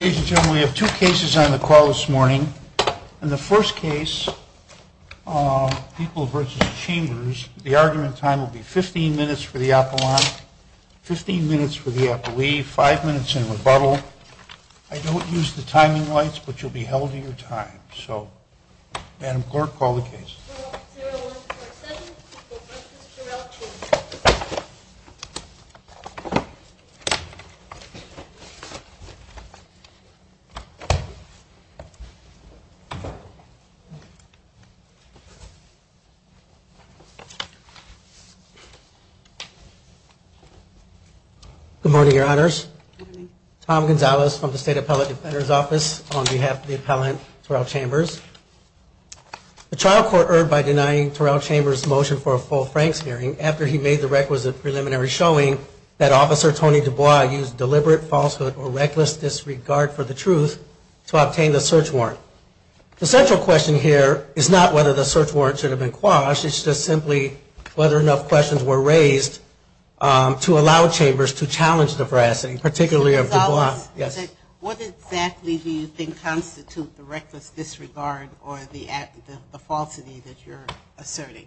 We have two cases on the call this morning. In the first case, People v. Chambers, the argument time will be 15 minutes for the appellant, 15 minutes for the appellee, five minutes in rebuttal. I don't use the timing lights, but you'll be held to your time. So, Madam Clerk, call the case. 0147, People v. Turrell, Chambers. Good morning, Your Honors. Tom Gonzalez from the State Appellate Defender's Office on behalf of the appellant, Turrell Chambers. The trial court erred by denying Turrell Chambers' motion for a full Franks hearing after he made the requisite preliminary showing that Officer Tony DuBois used deliberate falsehood or reckless disregard for the truth to obtain the search warrant. The central question here is not whether the search warrant should have been quashed, it's just simply whether enough questions were raised to allow Chambers to challenge the veracity, particularly of DuBois. What exactly do you think constitutes the reckless disregard or the falsity that you're asserting?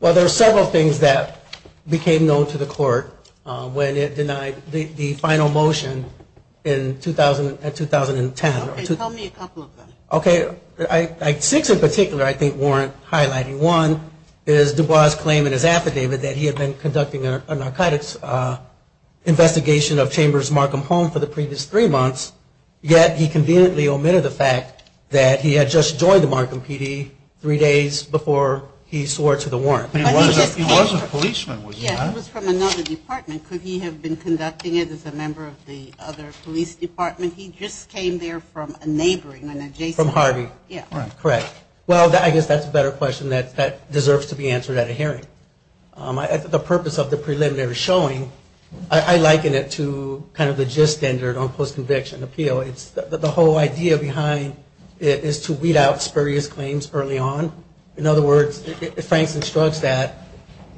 Well, there are several things that became known to the court when it denied the final motion in 2010. Okay, tell me a couple of them. Okay, six in particular I think warrant highlighting. One is DuBois' claim in his affidavit that he had been conducting a narcotics investigation of Chambers' Markham home for the previous three months, yet he conveniently omitted the fact that he had just joined the Markham PD three days before he swore to the warrant. He was a policeman, was he not? Yes, he was from another department. Could he have been conducting it as a member of the other police department? He just came there from a neighboring, an adjacent. From Harvey. Yes. Correct. Well, I guess that's a better question that deserves to be answered at a hearing. The purpose of the preliminary showing, I liken it to kind of the gist standard on post-conviction appeal. It's the whole idea behind it is to weed out spurious claims early on. In other words, Franks instructs that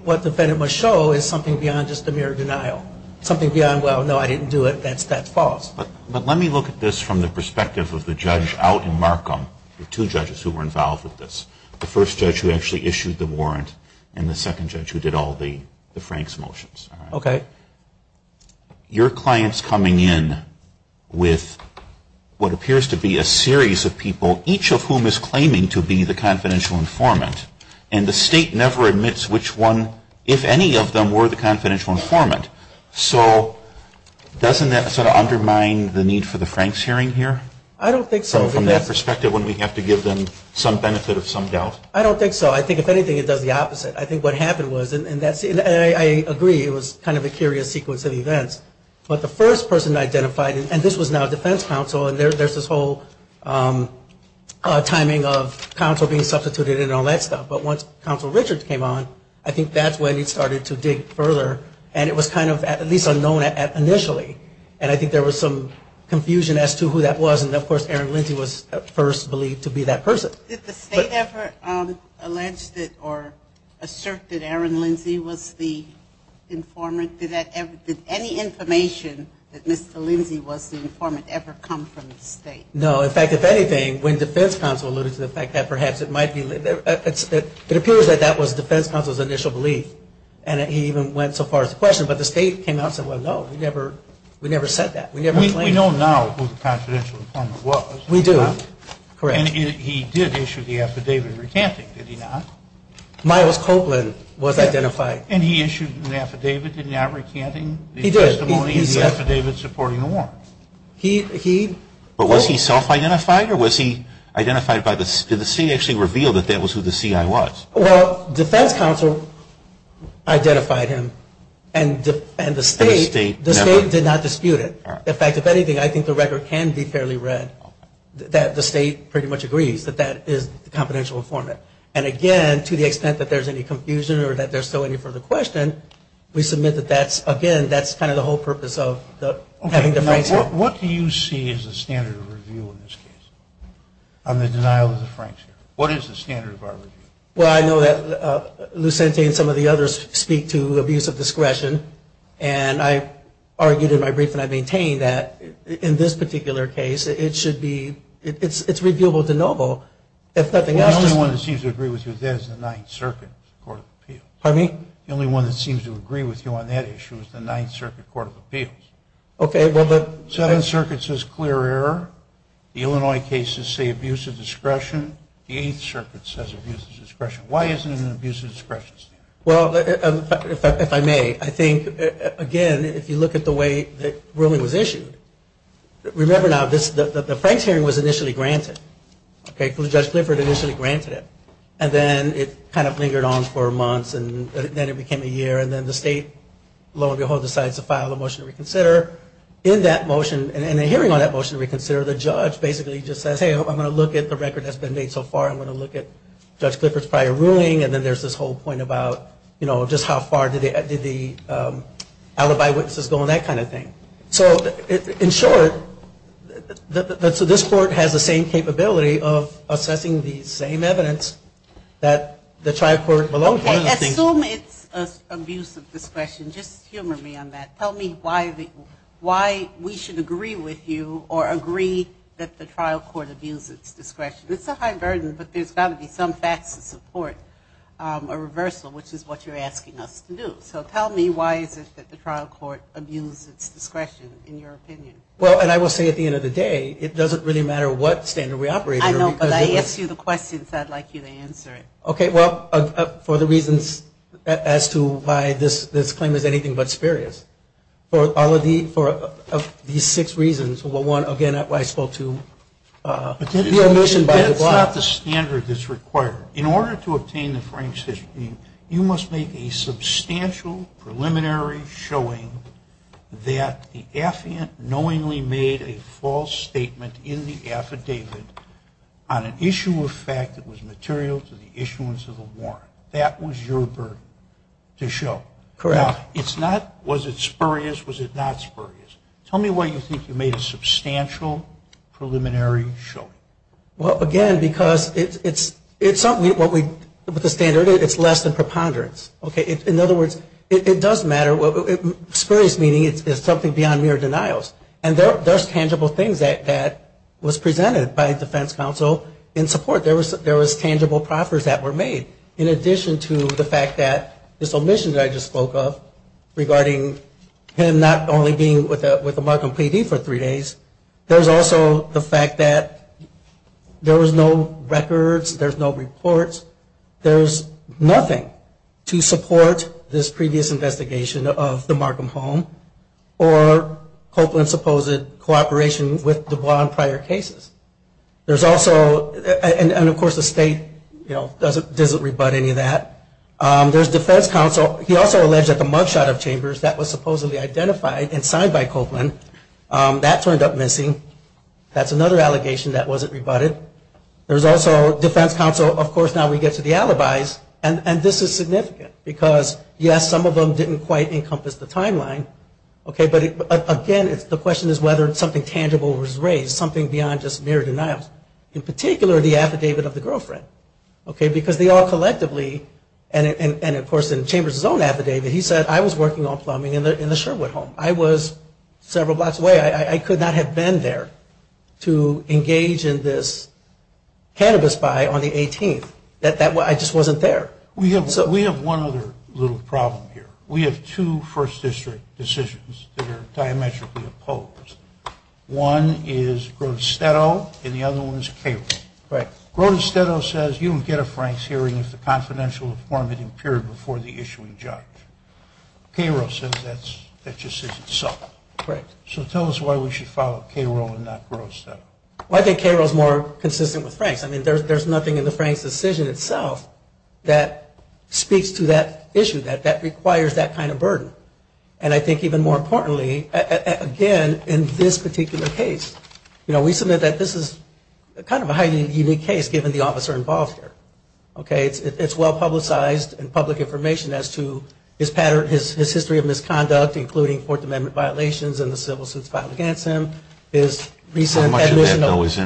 what the defendant must show is something beyond just a mere denial. Something beyond, well, no, I didn't do it, that's false. But let me look at this from the perspective of the judge out in Markham, the two judges who were involved with this, the first judge who actually issued the warrant and the second judge who did all the Franks' motions. Okay. Your client's coming in with what appears to be a series of people, each of whom is claiming to be the confidential informant. And the state never admits which one, if any of them, were the confidential informant. So doesn't that sort of undermine the need for the Franks' hearing here? I don't think so. So from that perspective, wouldn't we have to give them some benefit of some doubt? I don't think so. I think, if anything, it does the opposite. I think what happened was, and I agree, it was kind of a curious sequence of events. But the first person identified, and this was now defense counsel, and there's this whole timing of counsel being substituted and all that stuff. But once counsel Richards came on, I think that's when he started to dig further. And it was kind of at least unknown initially. And I think there was some confusion as to who that was. And, of course, Aaron Lindsay was first believed to be that person. So did the state ever allege or assert that Aaron Lindsay was the informant? Did any information that Mr. Lindsay was the informant ever come from the state? No. In fact, if anything, when defense counsel alluded to the fact that perhaps it might be, it appears that that was defense counsel's initial belief. And he even went so far as to question it. But the state came out and said, well, no, we never said that. We know now who the confidential informant was. We do. Correct. And he did issue the affidavit recanting, did he not? Myles Copeland was identified. And he issued an affidavit, did he not, recanting the testimony and the affidavit supporting the warrant? He did. But was he self-identified or was he identified by the state? Did the state actually reveal that that was who the CI was? Well, defense counsel identified him and the state did not dispute it. In fact, if anything, I think the record can be fairly read that the state pretty much agrees that that is the confidential informant. And again, to the extent that there's any confusion or that there's still any further question, we submit that that's, again, that's kind of the whole purpose of having the Franks here. What do you see as the standard of review in this case on the denial of the Franks here? What is the standard of our review? Well, I know that Lucente and some of the others speak to abuse of discretion. And I argued in my brief and I maintain that in this particular case, it should be, it's reviewable de novo, if nothing else. Well, the only one that seems to agree with you on that is the Ninth Circuit Court of Appeals. Pardon me? The only one that seems to agree with you on that issue is the Ninth Circuit Court of Appeals. Okay. The Seventh Circuit says clear error. The Illinois cases say abuse of discretion. The Eighth Circuit says abuse of discretion. Why isn't it an abuse of discretion standard? Well, if I may, I think, again, if you look at the way that ruling was issued, remember now, the Franks hearing was initially granted. Judge Clifford initially granted it. And then it kind of lingered on for months and then it became a year. And then the state, lo and behold, decides to file a motion to reconsider. In that motion and in the hearing on that motion to reconsider, the judge basically just says, hey, I'm going to look at the record that's been made so far. I'm going to look at Judge Clifford's prior ruling. And then there's this whole point about, you know, just how far did the alibi witnesses go and that kind of thing. So in short, so this court has the same capability of assessing the same evidence that the trial court belongs to. Okay. Assume it's abuse of discretion. Just humor me on that. Tell me why we should agree with you or agree that the trial court abuses discretion. It's a high burden, but there's got to be some facts to support a reversal, which is what you're asking us to do. So tell me why is it that the trial court abuses discretion in your opinion? Well, and I will say at the end of the day, it doesn't really matter what standard we operate under. I know, but I asked you the question, so I'd like you to answer it. Okay. Well, for the reasons as to why this claim is anything but spurious, for all of these six reasons, one, again, why I spoke to the omission by the block. That's not the standard that's required. In order to obtain the Frank's history, you must make a substantial preliminary showing that the affiant knowingly made a false statement in the affidavit on an issue of fact that was material to the issuance of the warrant. That was your burden to show. Correct. Now, it's not was it spurious, was it not spurious. Tell me why you think you made a substantial preliminary showing. Well, again, because it's something with the standard, it's less than preponderance. In other words, it does matter. Spurious meaning it's something beyond mere denials. And there's tangible things that was presented by defense counsel in support. There was tangible proffers that were made. In addition to the fact that this omission that I just spoke of regarding him not only being with a mark on PD for three days, there's also the fact that there was no records, there's no reports, there's nothing to support this previous investigation of the Markham home or Copeland's supposed cooperation with DuBois in prior cases. There's also, and of course the state, you know, doesn't rebut any of that. There's defense counsel. He also alleged that the mug shot of Chambers that was supposedly identified and signed by Copeland, that turned up missing. That's another allegation that wasn't rebutted. There's also defense counsel, of course now we get to the alibis, and this is significant. Because, yes, some of them didn't quite encompass the timeline. Okay, but again, the question is whether something tangible was raised, something beyond just mere denials. In particular, the affidavit of the girlfriend. Because they all collectively, and of course in Chambers' own affidavit, he said, I was working on plumbing in the Sherwood home. I was several blocks away. I could not have been there to engage in this cannabis buy on the 18th. I just wasn't there. We have one other little problem here. We have two first district decisions that are diametrically opposed. One is Grotestetto, and the other one is Cable. Grotestetto says you would get a Franks hearing if the confidential form had appeared before the issuing judge. Cable says that just is itself. So tell us why we should follow Cable and not Grotestetto. Well, I think Cable is more consistent with Franks. I mean, there's nothing in the Franks decision itself that speaks to that issue, that requires that kind of burden. And I think even more importantly, again, in this particular case, you know, we submit that this is kind of a highly unique case, given the officer involved here. Okay? It's well publicized in public information as to his history of misconduct, including Fourth Amendment violations and the civil suits filed against him, his recent admission.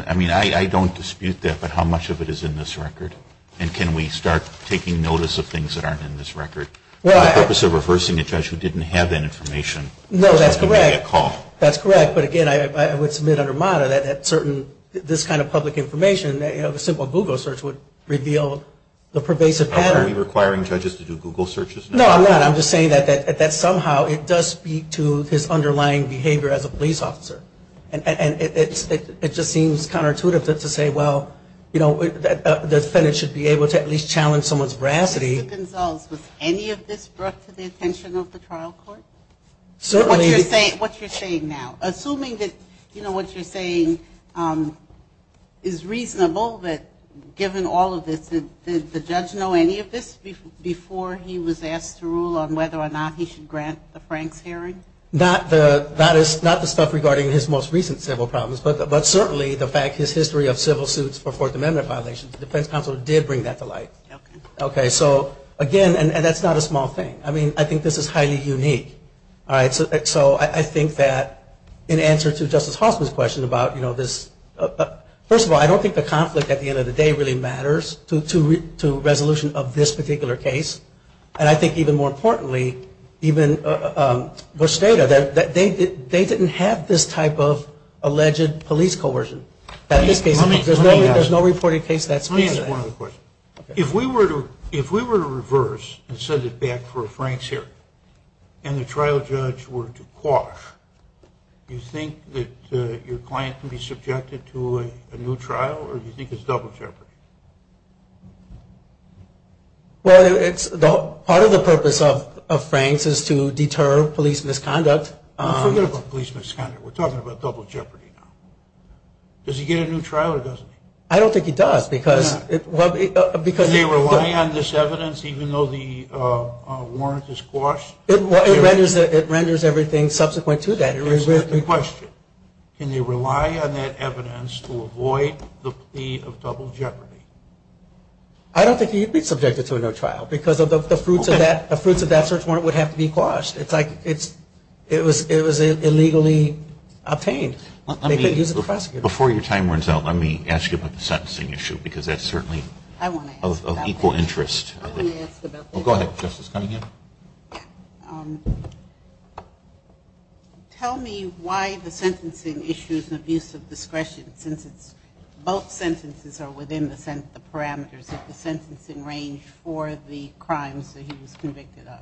I mean, I don't dispute that. But how much of it is in this record? And can we start taking notice of things that aren't in this record? The purpose of reversing a judge who didn't have that information. No, that's correct. That's correct. But, again, I would submit under MATA that this kind of public information, you know, a simple Google search would reveal the pervasive pattern. Are we requiring judges to do Google searches? No, I'm not. I'm just saying that somehow it does speak to his underlying behavior as a police officer. And it just seems counterintuitive to say, well, you know, the defendant should be able to at least challenge someone's veracity. Mr. Gonzales, was any of this brought to the attention of the trial court? What you're saying now. Assuming that, you know, what you're saying is reasonable, but given all of this, did the judge know any of this before he was asked to rule on whether or not he should grant the Franks hearing? Not the stuff regarding his most recent civil problems, but certainly the fact his history of civil suits for Fourth Amendment violations. The defense counsel did bring that to light. Okay. So, again, and that's not a small thing. I mean, I think this is highly unique. All right. So I think that in answer to Justice Hoffman's question about, you know, this, first of all, I don't think the conflict at the end of the day really matters to resolution of this particular case. And I think even more importantly, even Busteta, they didn't have this type of alleged police coercion. There's no reported case that speaks to that. Let me answer one other question. If we were to reverse and send it back for a Franks hearing and the trial judge were to quash, do you think that your client could be subjected to a new trial or do you think it's double jeopardy? Well, part of the purpose of Franks is to deter police misconduct. Forget about police misconduct. We're talking about double jeopardy now. Does he get a new trial or doesn't he? I don't think he does. Does he rely on this evidence even though the warrant is quashed? It renders everything subsequent to that. Can you rely on that evidence to avoid the plea of double jeopardy? I don't think he'd be subjected to a new trial because of the fruits of that search warrant would have to be quashed. It's like it was illegally obtained. Before your time runs out, let me ask you about the sentencing issue because that's certainly of equal interest. Go ahead, Justice Cunningham. Tell me why the sentencing issue is an abuse of discretion since both sentences are within the parameters of the sentencing range for the crimes that he was convicted of.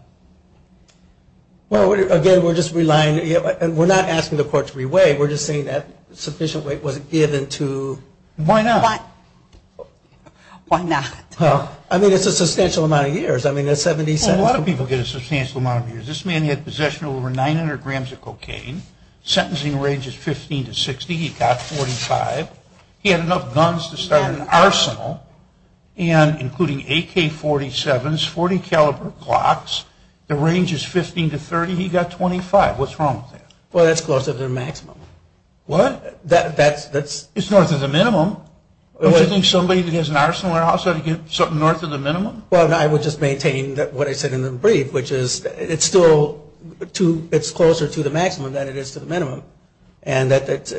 Well, again, we're not asking the court to re-weigh. We're just saying that sufficient weight wasn't given to... Why not? I mean, it's a substantial amount of years. A lot of people get a substantial amount of years. This man had possession of over 900 grams of cocaine. Sentencing range is 15 to 60. He got 45. He had enough guns to start an arsenal, including AK-47s, .40 caliber clocks. The range is 15 to 30. He got 25. What's wrong with that? Well, that's closer to the maximum. What? That's... It's north of the minimum. Don't you think somebody that has an arsenal in their house ought to get something north of the minimum? Well, I would just maintain what I said in the brief, which is it's still closer to the maximum than it is to the minimum. And that's...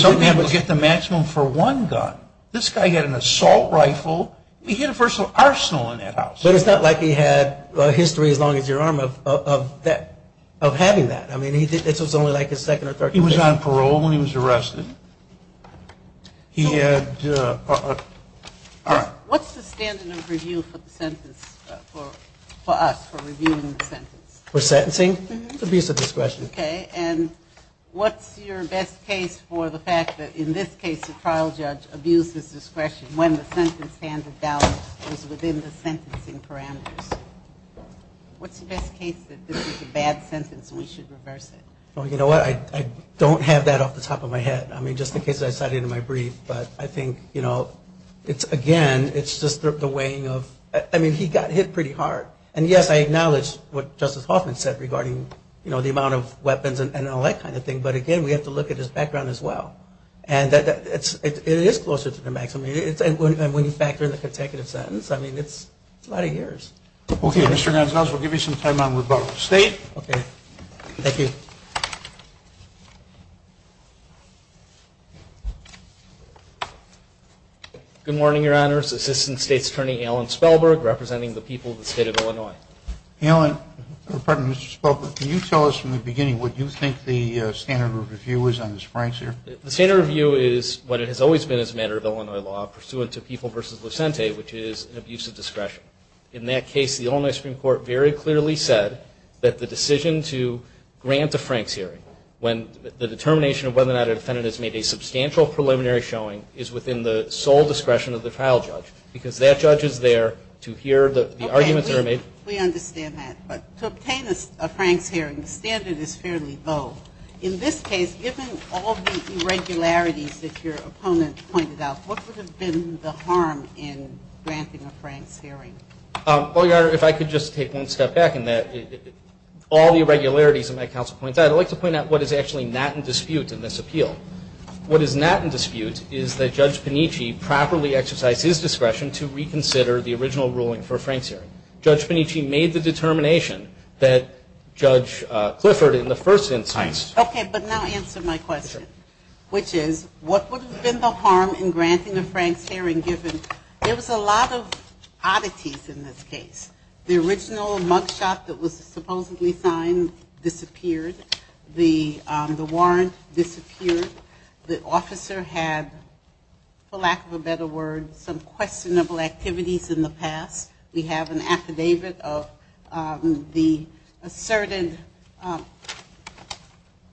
Some people get the maximum for one gun. This guy had an assault rifle. He had a personal arsenal in that house. But it's not like he had a history as long as your arm of having that. I mean, this was only like his second or third conviction. He was on parole when he was arrested. He had... All right. What's the standard of review for the sentence for us, for reviewing the sentence? For sentencing? It's abuse of discretion. Okay. And what's your best case for the fact that, in this case, the trial judge abused his discretion when the sentence handed down was within the sentencing parameters? What's the best case that this is a bad sentence and we should reverse it? Well, you know what? I don't have that off the top of my head. I mean, just in case I cited it in my brief. But I think, you know, it's, again, it's just the weighing of... I mean, he got hit pretty hard. And, yes, I acknowledge what Justice Hoffman said regarding, you know, the amount of weapons and all that kind of thing. But, again, we have to look at his background as well. And it is closer to the maximum. And when you factor in the consecutive sentence, I mean, it's a lot of years. Okay. Mr. Gonzalez, we'll give you some time on rebuttal. State? Okay. Thank you. Good morning, Your Honors. Assistant State's Attorney Alan Spellberg representing the people of the State of Illinois. Alan, or, pardon me, Mr. Spellberg, can you tell us from the beginning what you think the standard of review is on this Frank's hearing? The standard of review is what it has always been as a matter of Illinois law, pursuant to People v. Lucente, which is an abuse of discretion. In that case, the Illinois Supreme Court very clearly said that the decision to grant a Frank's hearing when the determination of whether or not a defendant has made a substantial preliminary showing is within the sole discretion of the trial judge. Because that judge is there to hear the arguments that are made. Okay. We understand that. But to obtain a Frank's hearing, the standard is fairly low. In this case, given all the irregularities that your opponent pointed out, what would have been the harm in granting a Frank's hearing? Well, Your Honor, if I could just take one step back in that, all the irregularities that my counsel points out, I'd like to point out what is actually not in dispute in this appeal. What is not in dispute is that Judge Panicci properly exercised his discretion to reconsider the original ruling for a Frank's hearing. Judge Panicci made the determination that Judge Clifford, in the first instance. Okay. But now answer my question, which is what would have been the harm in granting a Frank's hearing given there was a lot of oddities in this case. The original mug shot that was supposedly signed disappeared. The warrant disappeared. The officer had, for lack of a better word, some questionable activities in the past. We have an affidavit of the asserted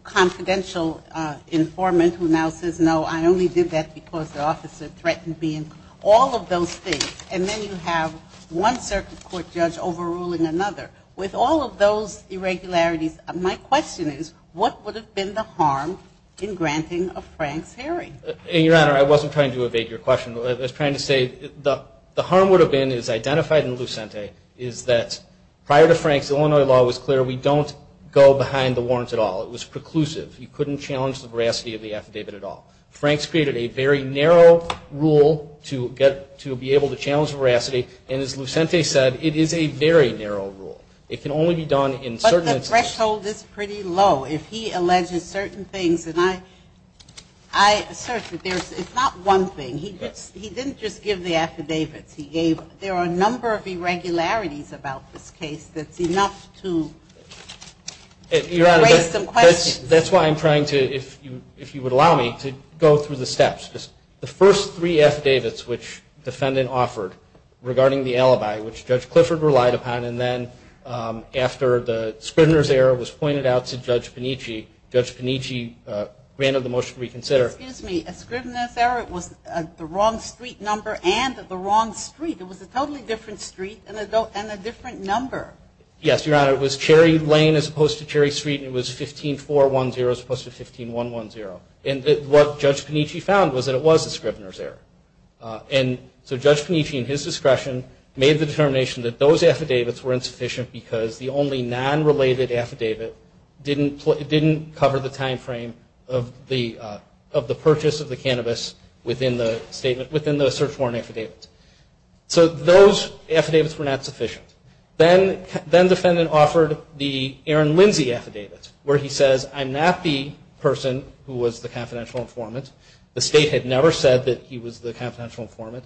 confidential informant who now says, no, I only did that because the officer threatened me. All of those things. And then you have one circuit court judge overruling another. With all of those irregularities, my question is what would have been the harm in granting a Frank's hearing? And, Your Honor, I wasn't trying to evade your question. I was trying to say the harm would have been as identified in Lucente is that prior to Frank's, Illinois law was clear, we don't go behind the warrants at all. It was preclusive. You couldn't challenge the veracity of the affidavit at all. Frank's created a very narrow rule to be able to challenge veracity, and as Lucente said, it is a very narrow rule. It can only be done in certain instances. But the threshold is pretty low. If he alleges certain things, and I assert that it's not one thing. He didn't just give the affidavits. There are a number of irregularities about this case that's enough to raise some questions. Your Honor, that's why I'm trying to, if you would allow me, to go through the steps. The first three affidavits which the defendant offered regarding the alibi, which Judge Clifford relied upon, and then after the Scrivener's error was pointed out to Judge Panici, Judge Panici granted the motion to reconsider. Excuse me. A Scrivener's error was the wrong street number and the wrong street. It was a totally different street and a different number. Yes, Your Honor. It was Cherry Lane as opposed to Cherry Street, and it was 15410 as opposed to 15110. And what Judge Panici found was that it was a Scrivener's error. And so Judge Panici, in his discretion, made the determination that those affidavits were insufficient because the only non-related affidavit didn't cover the time frame of the purchase of the cannabis within the search warrant affidavit. So those affidavits were not sufficient. Then the defendant offered the Aaron Lindsay affidavit where he says, I'm not the person who was the confidential informant. The State had never said that he was the confidential informant.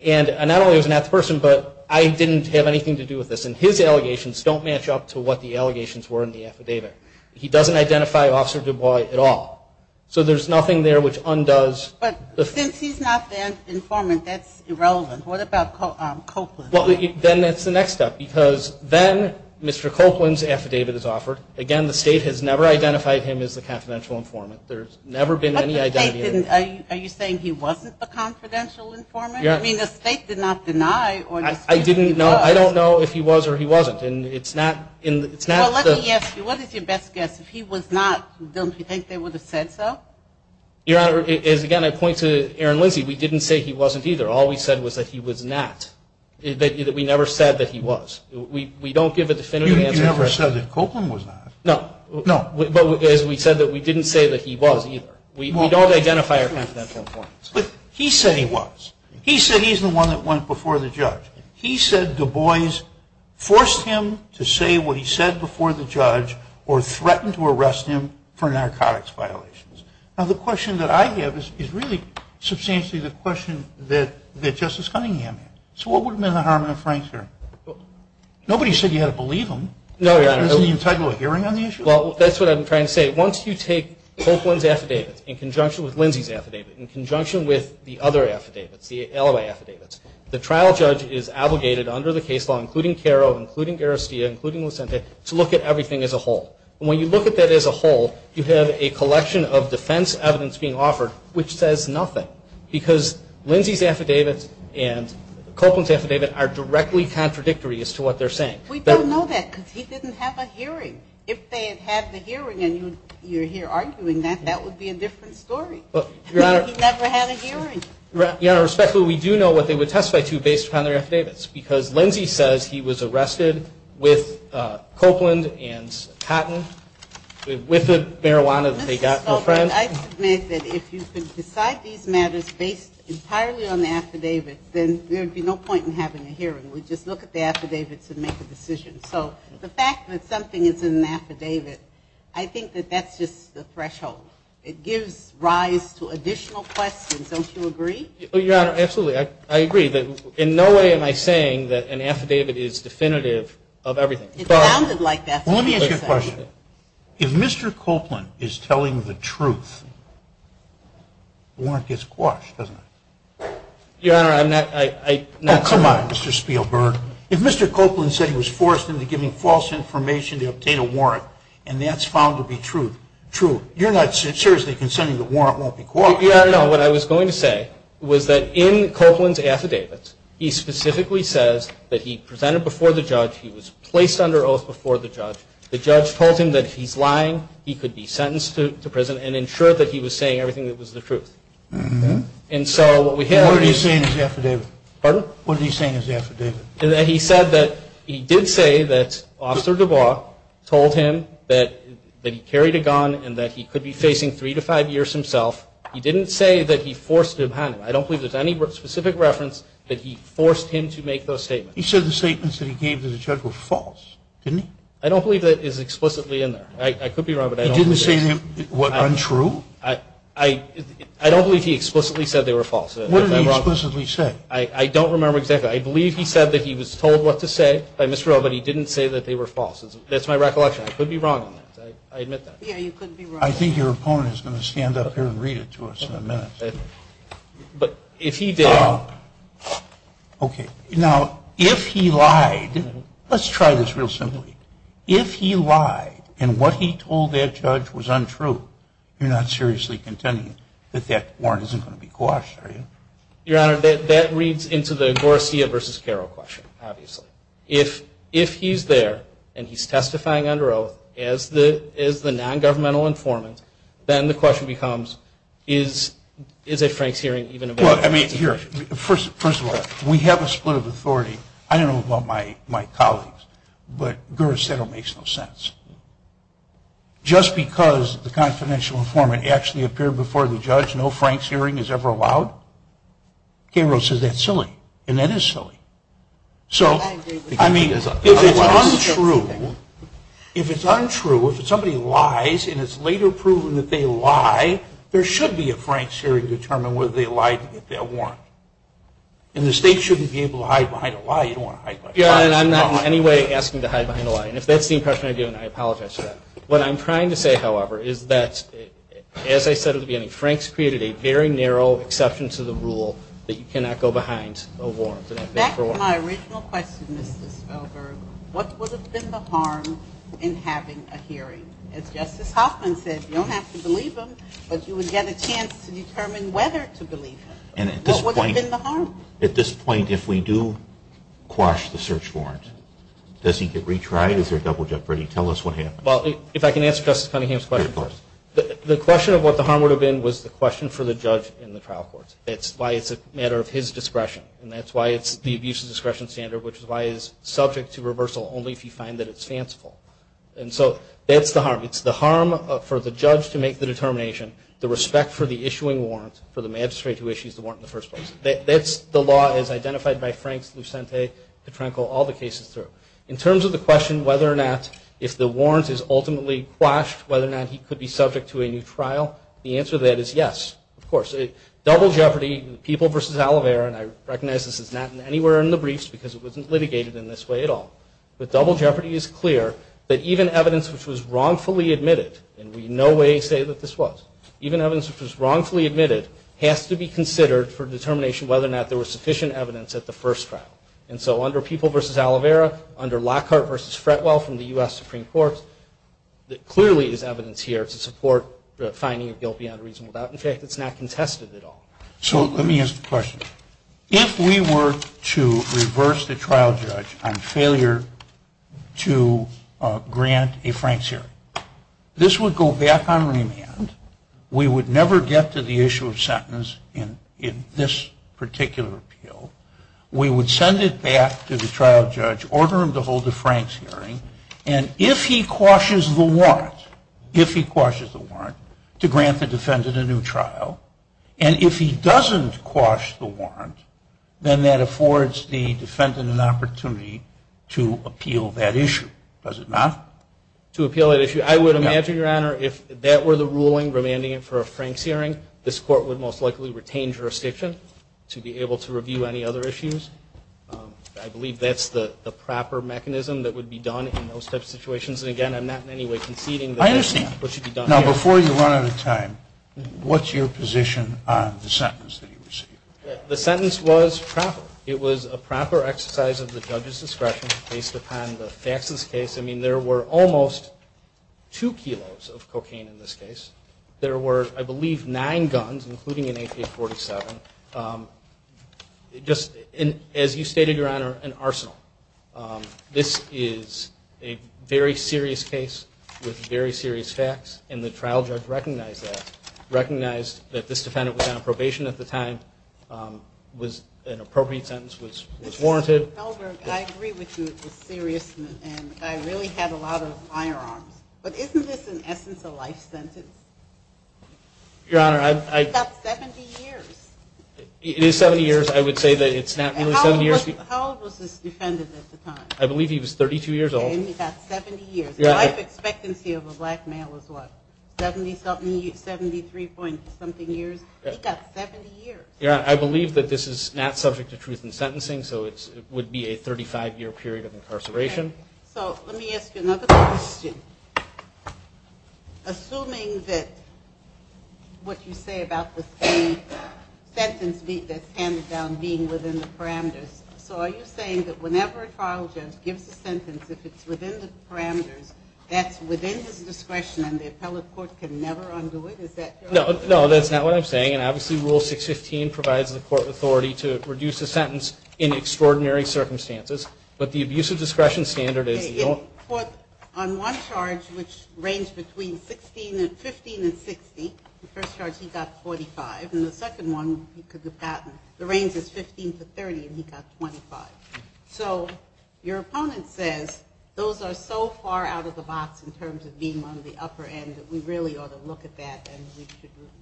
And not only was he not the person, but I didn't have anything to do with this. And his allegations don't match up to what the allegations were in the affidavit. He doesn't identify Officer DuBois at all. So there's nothing there which undoes. But since he's not the informant, that's irrelevant. What about Copeland? Then that's the next step because then Mr. Copeland's affidavit is offered. Again, the State has never identified him as the confidential informant. There's never been any identity. Are you saying he wasn't the confidential informant? I mean, the State did not deny. I don't know if he was or he wasn't. Well, let me ask you, what is your best guess? If he was not, don't you think they would have said so? Your Honor, again, I point to Aaron Lindsay. We didn't say he wasn't either. All we said was that he was not. We never said that he was. We don't give a definitive answer. You never said that Copeland was not. No. No. But as we said, we didn't say that he was either. We don't identify our confidential informants. But he said he was. He said he's the one that went before the judge. He said Du Bois forced him to say what he said before the judge or threatened to arrest him for narcotics violations. Now, the question that I have is really substantially the question that Justice Cunningham had. So what would have been the Harmon and Frank hearing? Nobody said you had to believe them. No, Your Honor. Isn't the integral hearing on the issue? Well, that's what I'm trying to say. Once you take Copeland's affidavit in conjunction with Lindsay's affidavit, in conjunction with the other affidavits, the alibi affidavits, the trial judge is obligated under the case law, including Caro, including Garastia, including Lucente, to look at everything as a whole. And when you look at that as a whole, you have a collection of defense evidence being offered which says nothing because Lindsay's affidavit and Copeland's affidavit are directly contradictory as to what they're saying. We don't know that because he didn't have a hearing. If they had had the hearing and you're here arguing that, that would be a different story. He never had a hearing. Your Honor, respectfully, we do know what they would testify to based upon their affidavits because Lindsay says he was arrested with Copeland and Cotton, with the marijuana that they got from a friend. I submit that if you could decide these matters based entirely on the affidavit, then there would be no point in having a hearing. We'd just look at the affidavits and make a decision. So the fact that something is in an affidavit, I think that that's just the threshold. It gives rise to additional questions. Don't you agree? Your Honor, absolutely. I agree. In no way am I saying that an affidavit is definitive of everything. It sounded like that to me. Let me ask you a question. If Mr. Copeland is telling the truth, the warrant gets quashed, doesn't it? Your Honor, I'm not saying that. Oh, come on, Mr. Spielberg. If Mr. Copeland said he was forced into giving false information to obtain a warrant and that's found to be true, you're not seriously consenting the warrant won't be quashed? Your Honor, no. What I was going to say was that in Copeland's affidavit, he specifically says that he presented before the judge, he was placed under oath before the judge, the judge told him that if he's lying, he could be sentenced to prison and ensured that he was saying everything that was the truth. And so what we have is the affidavit. Pardon? What did he say in his affidavit? He said that he did say that Officer DuBois told him that he carried a gun and that he could be facing three to five years himself. He didn't say that he forced him. I don't believe there's any specific reference that he forced him to make those statements. He said the statements that he gave to the judge were false, didn't he? I don't believe that is explicitly in there. I could be wrong, but I don't believe that. He didn't say they were untrue? I don't believe he explicitly said they were false. What did he explicitly say? I don't remember exactly. I believe he said that he was told what to say by Ms. Ferrell, but he didn't say that they were false. That's my recollection. I could be wrong on that. I admit that. Yeah, you could be wrong. I think your opponent is going to stand up here and read it to us in a minute. But if he did. Okay. Now, if he lied, let's try this real simply. If he lied and what he told that judge was untrue, you're not seriously contending that that warrant isn't going to be quashed, are you? Your Honor, that reads into the Garcia v. Carroll question, obviously. If he's there and he's testifying under oath as the non-governmental informant, then the question becomes, is a Frank's hearing even a valid question? Well, I mean, here, first of all, we have a split of authority. I don't know about my colleagues, but Garcetto makes no sense. Just because the confidential informant actually appeared before the judge, no Frank's hearing is ever allowed? Carroll says that's silly, and that is silly. So, I mean, if it's untrue, if it's untrue, if somebody lies and it's later proven that they lie, there should be a Frank's hearing to determine whether they lied to get that warrant. And the state shouldn't be able to hide behind a lie. You don't want to hide behind a lie. Your Honor, I'm not in any way asking to hide behind a lie. And if that's the impression I get, I apologize for that. What I'm trying to say, however, is that, as I said at the beginning, Frank's created a very narrow exception to the rule that you cannot go behind a warrant. Back to my original question, Mr. Svelberg, what would have been the harm in having a hearing? As Justice Hoffman said, you don't have to believe him, but you would get a chance to determine whether to believe him. What would have been the harm? At this point, if we do quash the search warrant, does he get retried? Is there a double jeopardy? Tell us what happened. Well, if I can answer Justice Cunningham's question first. The question of what the harm would have been was the question for the judge in the trial court. It's why it's a matter of his discretion. And that's why it's the abuse of discretion standard, which is why it's subject to reversal only if you find that it's fanciful. And so that's the harm. It's the harm for the judge to make the determination, the respect for the issuing warrant, for the magistrate who issues the warrant in the first place. That's the law as identified by Franks, Lucente, Petrenko, all the cases through. In terms of the question whether or not if the warrant is ultimately quashed, whether or not he could be subject to a new trial, the answer to that is yes, of course. Double jeopardy, People v. Oliveira, and I recognize this is not anywhere in the briefs because it wasn't litigated in this way at all, but double jeopardy is clear that even evidence which was wrongfully admitted, and we in no way say that this was, even evidence which was wrongfully admitted has to be considered for determination whether or not there was sufficient evidence at the first trial. And so under People v. Oliveira, under Lockhart v. Fretwell from the U.S. Supreme Court, there clearly is evidence here to support the finding of guilt beyond reason. In fact, it's not contested at all. So let me ask a question. If we were to reverse the trial judge on failure to grant a Franks hearing, this would go back on remand. We would never get to the issue of sentence in this particular appeal. We would send it back to the trial judge, order him to hold the Franks hearing, and if he quashes the warrant, if he quashes the warrant, to grant the defendant a new trial. And if he doesn't quash the warrant, then that affords the defendant an opportunity to appeal that issue, does it not? To appeal that issue. I would imagine, Your Honor, if that were the ruling remanding it for a Franks hearing, this Court would most likely retain jurisdiction to be able to review any other issues. I believe that's the proper mechanism that would be done in those types of situations. And, again, I'm not in any way conceding that that's what should be done here. I understand. Now, before you run out of time, what's your position on the sentence that you received? The sentence was proper. It was a proper exercise of the judge's discretion based upon the facts of this case. I mean, there were almost two kilos of cocaine in this case. There were, I believe, nine guns, including an AK-47. Just, as you stated, Your Honor, an arsenal. This is a very serious case with very serious facts, and the trial judge recognized that, recognized that this defendant was on probation at the time, was an appropriate sentence, was warranted. Helberg, I agree with you. It was serious, and I really had a lot of firearms. But isn't this, in essence, a life sentence? Your Honor, I... It's got 70 years. It is 70 years. I would say that it's not really 70 years. How old was this defendant at the time? I believe he was 32 years old. Okay, and he got 70 years. The life expectancy of a black male is what, 70-something, 73-point-something years? He got 70 years. Your Honor, I believe that this is not subject to truth in sentencing, so it would be a 35-year period of incarceration. So let me ask you another question. Assuming that what you say about the sentence that's handed down being within the parameters, so are you saying that whenever a trial judge gives a sentence, if it's within the parameters, that's within his discretion and the appellate court can never undo it? Is that correct? No, that's not what I'm saying, and obviously Rule 615 provides the court authority to reduce a sentence in extraordinary circumstances, but the abuse of discretion standard is the only... Well, on one charge, which ranged between 15 and 60, the first charge he got 45, and the second one he could have gotten, the range is 15 to 30 and he got 25. So your opponent says those are so far out of the box in terms of being on the upper end that we really ought to look at that and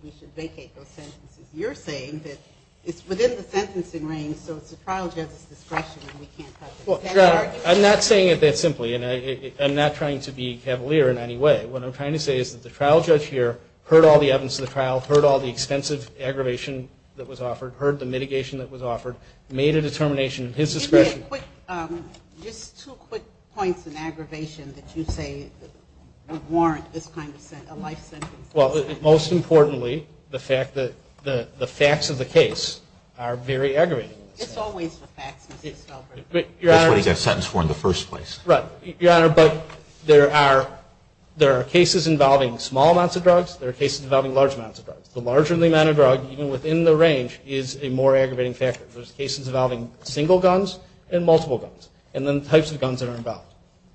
we should vacate those sentences. You're saying that it's within the sentencing range, so it's a trial judge's discretion and we can't touch it. I'm not saying it that simply, and I'm not trying to be cavalier in any way. What I'm trying to say is that the trial judge here heard all the evidence of the trial, heard all the extensive aggravation that was offered, heard the mitigation that was offered, made a determination at his discretion. Just two quick points in aggravation that you say would warrant this kind of a life sentence. Well, most importantly, the facts of the case are very aggravating. It's always the facts. That's what he got sentenced for in the first place. Right. Your Honor, but there are cases involving small amounts of drugs, there are cases involving large amounts of drugs. The larger the amount of drug, even within the range, is a more aggravating factor. There's cases involving single guns and multiple guns, and then types of guns that are involved.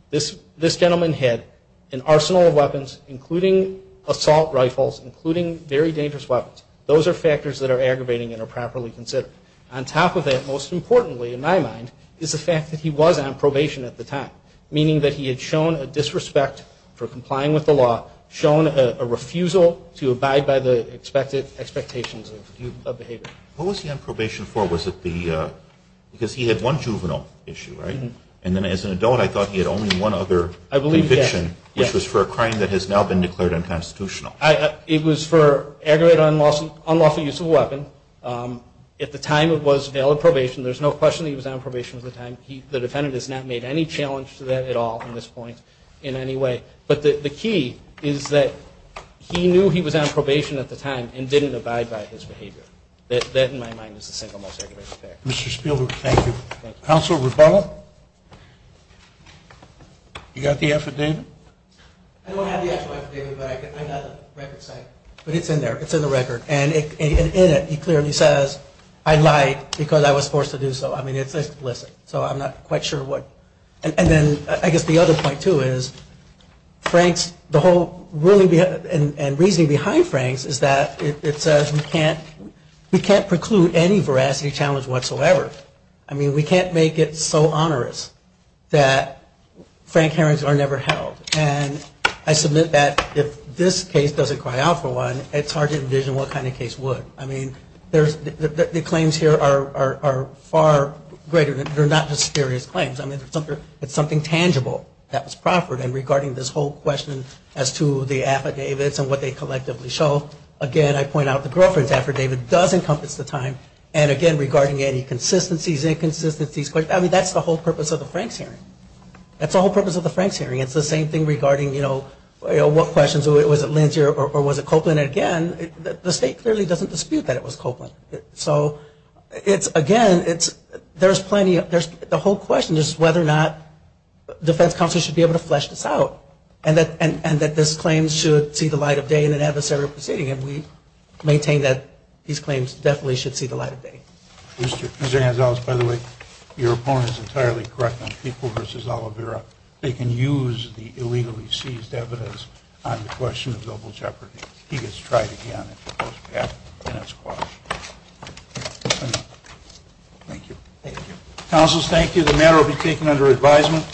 This gentleman had an arsenal of weapons, including assault rifles, including very dangerous weapons. Those are factors that are aggravating and are properly considered. On top of that, most importantly in my mind, is the fact that he was on probation at the time, meaning that he had shown a disrespect for complying with the law, shown a refusal to abide by the expectations of behavior. What was he on probation for? Was it because he had one juvenile issue, right? And then as an adult, I thought he had only one other conviction, which was for a crime that has now been declared unconstitutional. It was for aggravated unlawful use of a weapon. At the time, it was valid probation. There's no question that he was on probation at the time. The defendant has not made any challenge to that at all at this point in any way. But the key is that he knew he was on probation at the time and didn't abide by his behavior. That, in my mind, is the single most aggravating factor. Mr. Spielberg, thank you. Counselor Rebello? You got the affidavit? I don't have the actual affidavit, but I have the record, but it's in there. It's in the record. And in it, he clearly says, I lied because I was forced to do so. I mean, it's explicit. So I'm not quite sure what. And then I guess the other point, too, is Frank's, the whole ruling and reasoning behind Frank's is that it says we can't preclude any veracity challenge whatsoever. I mean, we can't make it so onerous that Frank hearings are never held. And I submit that if this case doesn't cry out for one, it's hard to envision what kind of case would. I mean, the claims here are far greater. They're not just serious claims. I mean, it's something tangible that was proffered. And regarding this whole question as to the affidavits and what they collectively show, again, I point out the girlfriend's affidavit does encompass the time. And, again, regarding any consistencies, inconsistencies, I mean, that's the whole purpose of the Franks hearing. That's the whole purpose of the Franks hearing. It's the same thing regarding, you know, what questions, was it Lindsay or was it Copeland? Again, the state clearly doesn't dispute that it was Copeland. So, again, there's plenty of the whole question is whether or not defense counsel should be able to flesh this out and that this claim should see the light of day in an adversarial proceeding. And we maintain that these claims definitely should see the light of day. Mr. Gonzalez, by the way, your point is entirely correct. They can use the illegally seized evidence on the question of global jeopardy. He gets tried again if he goes back and it's quashed. That's enough. Thank you. Thank you. Counselors, thank you. The matter will be taken under advisement.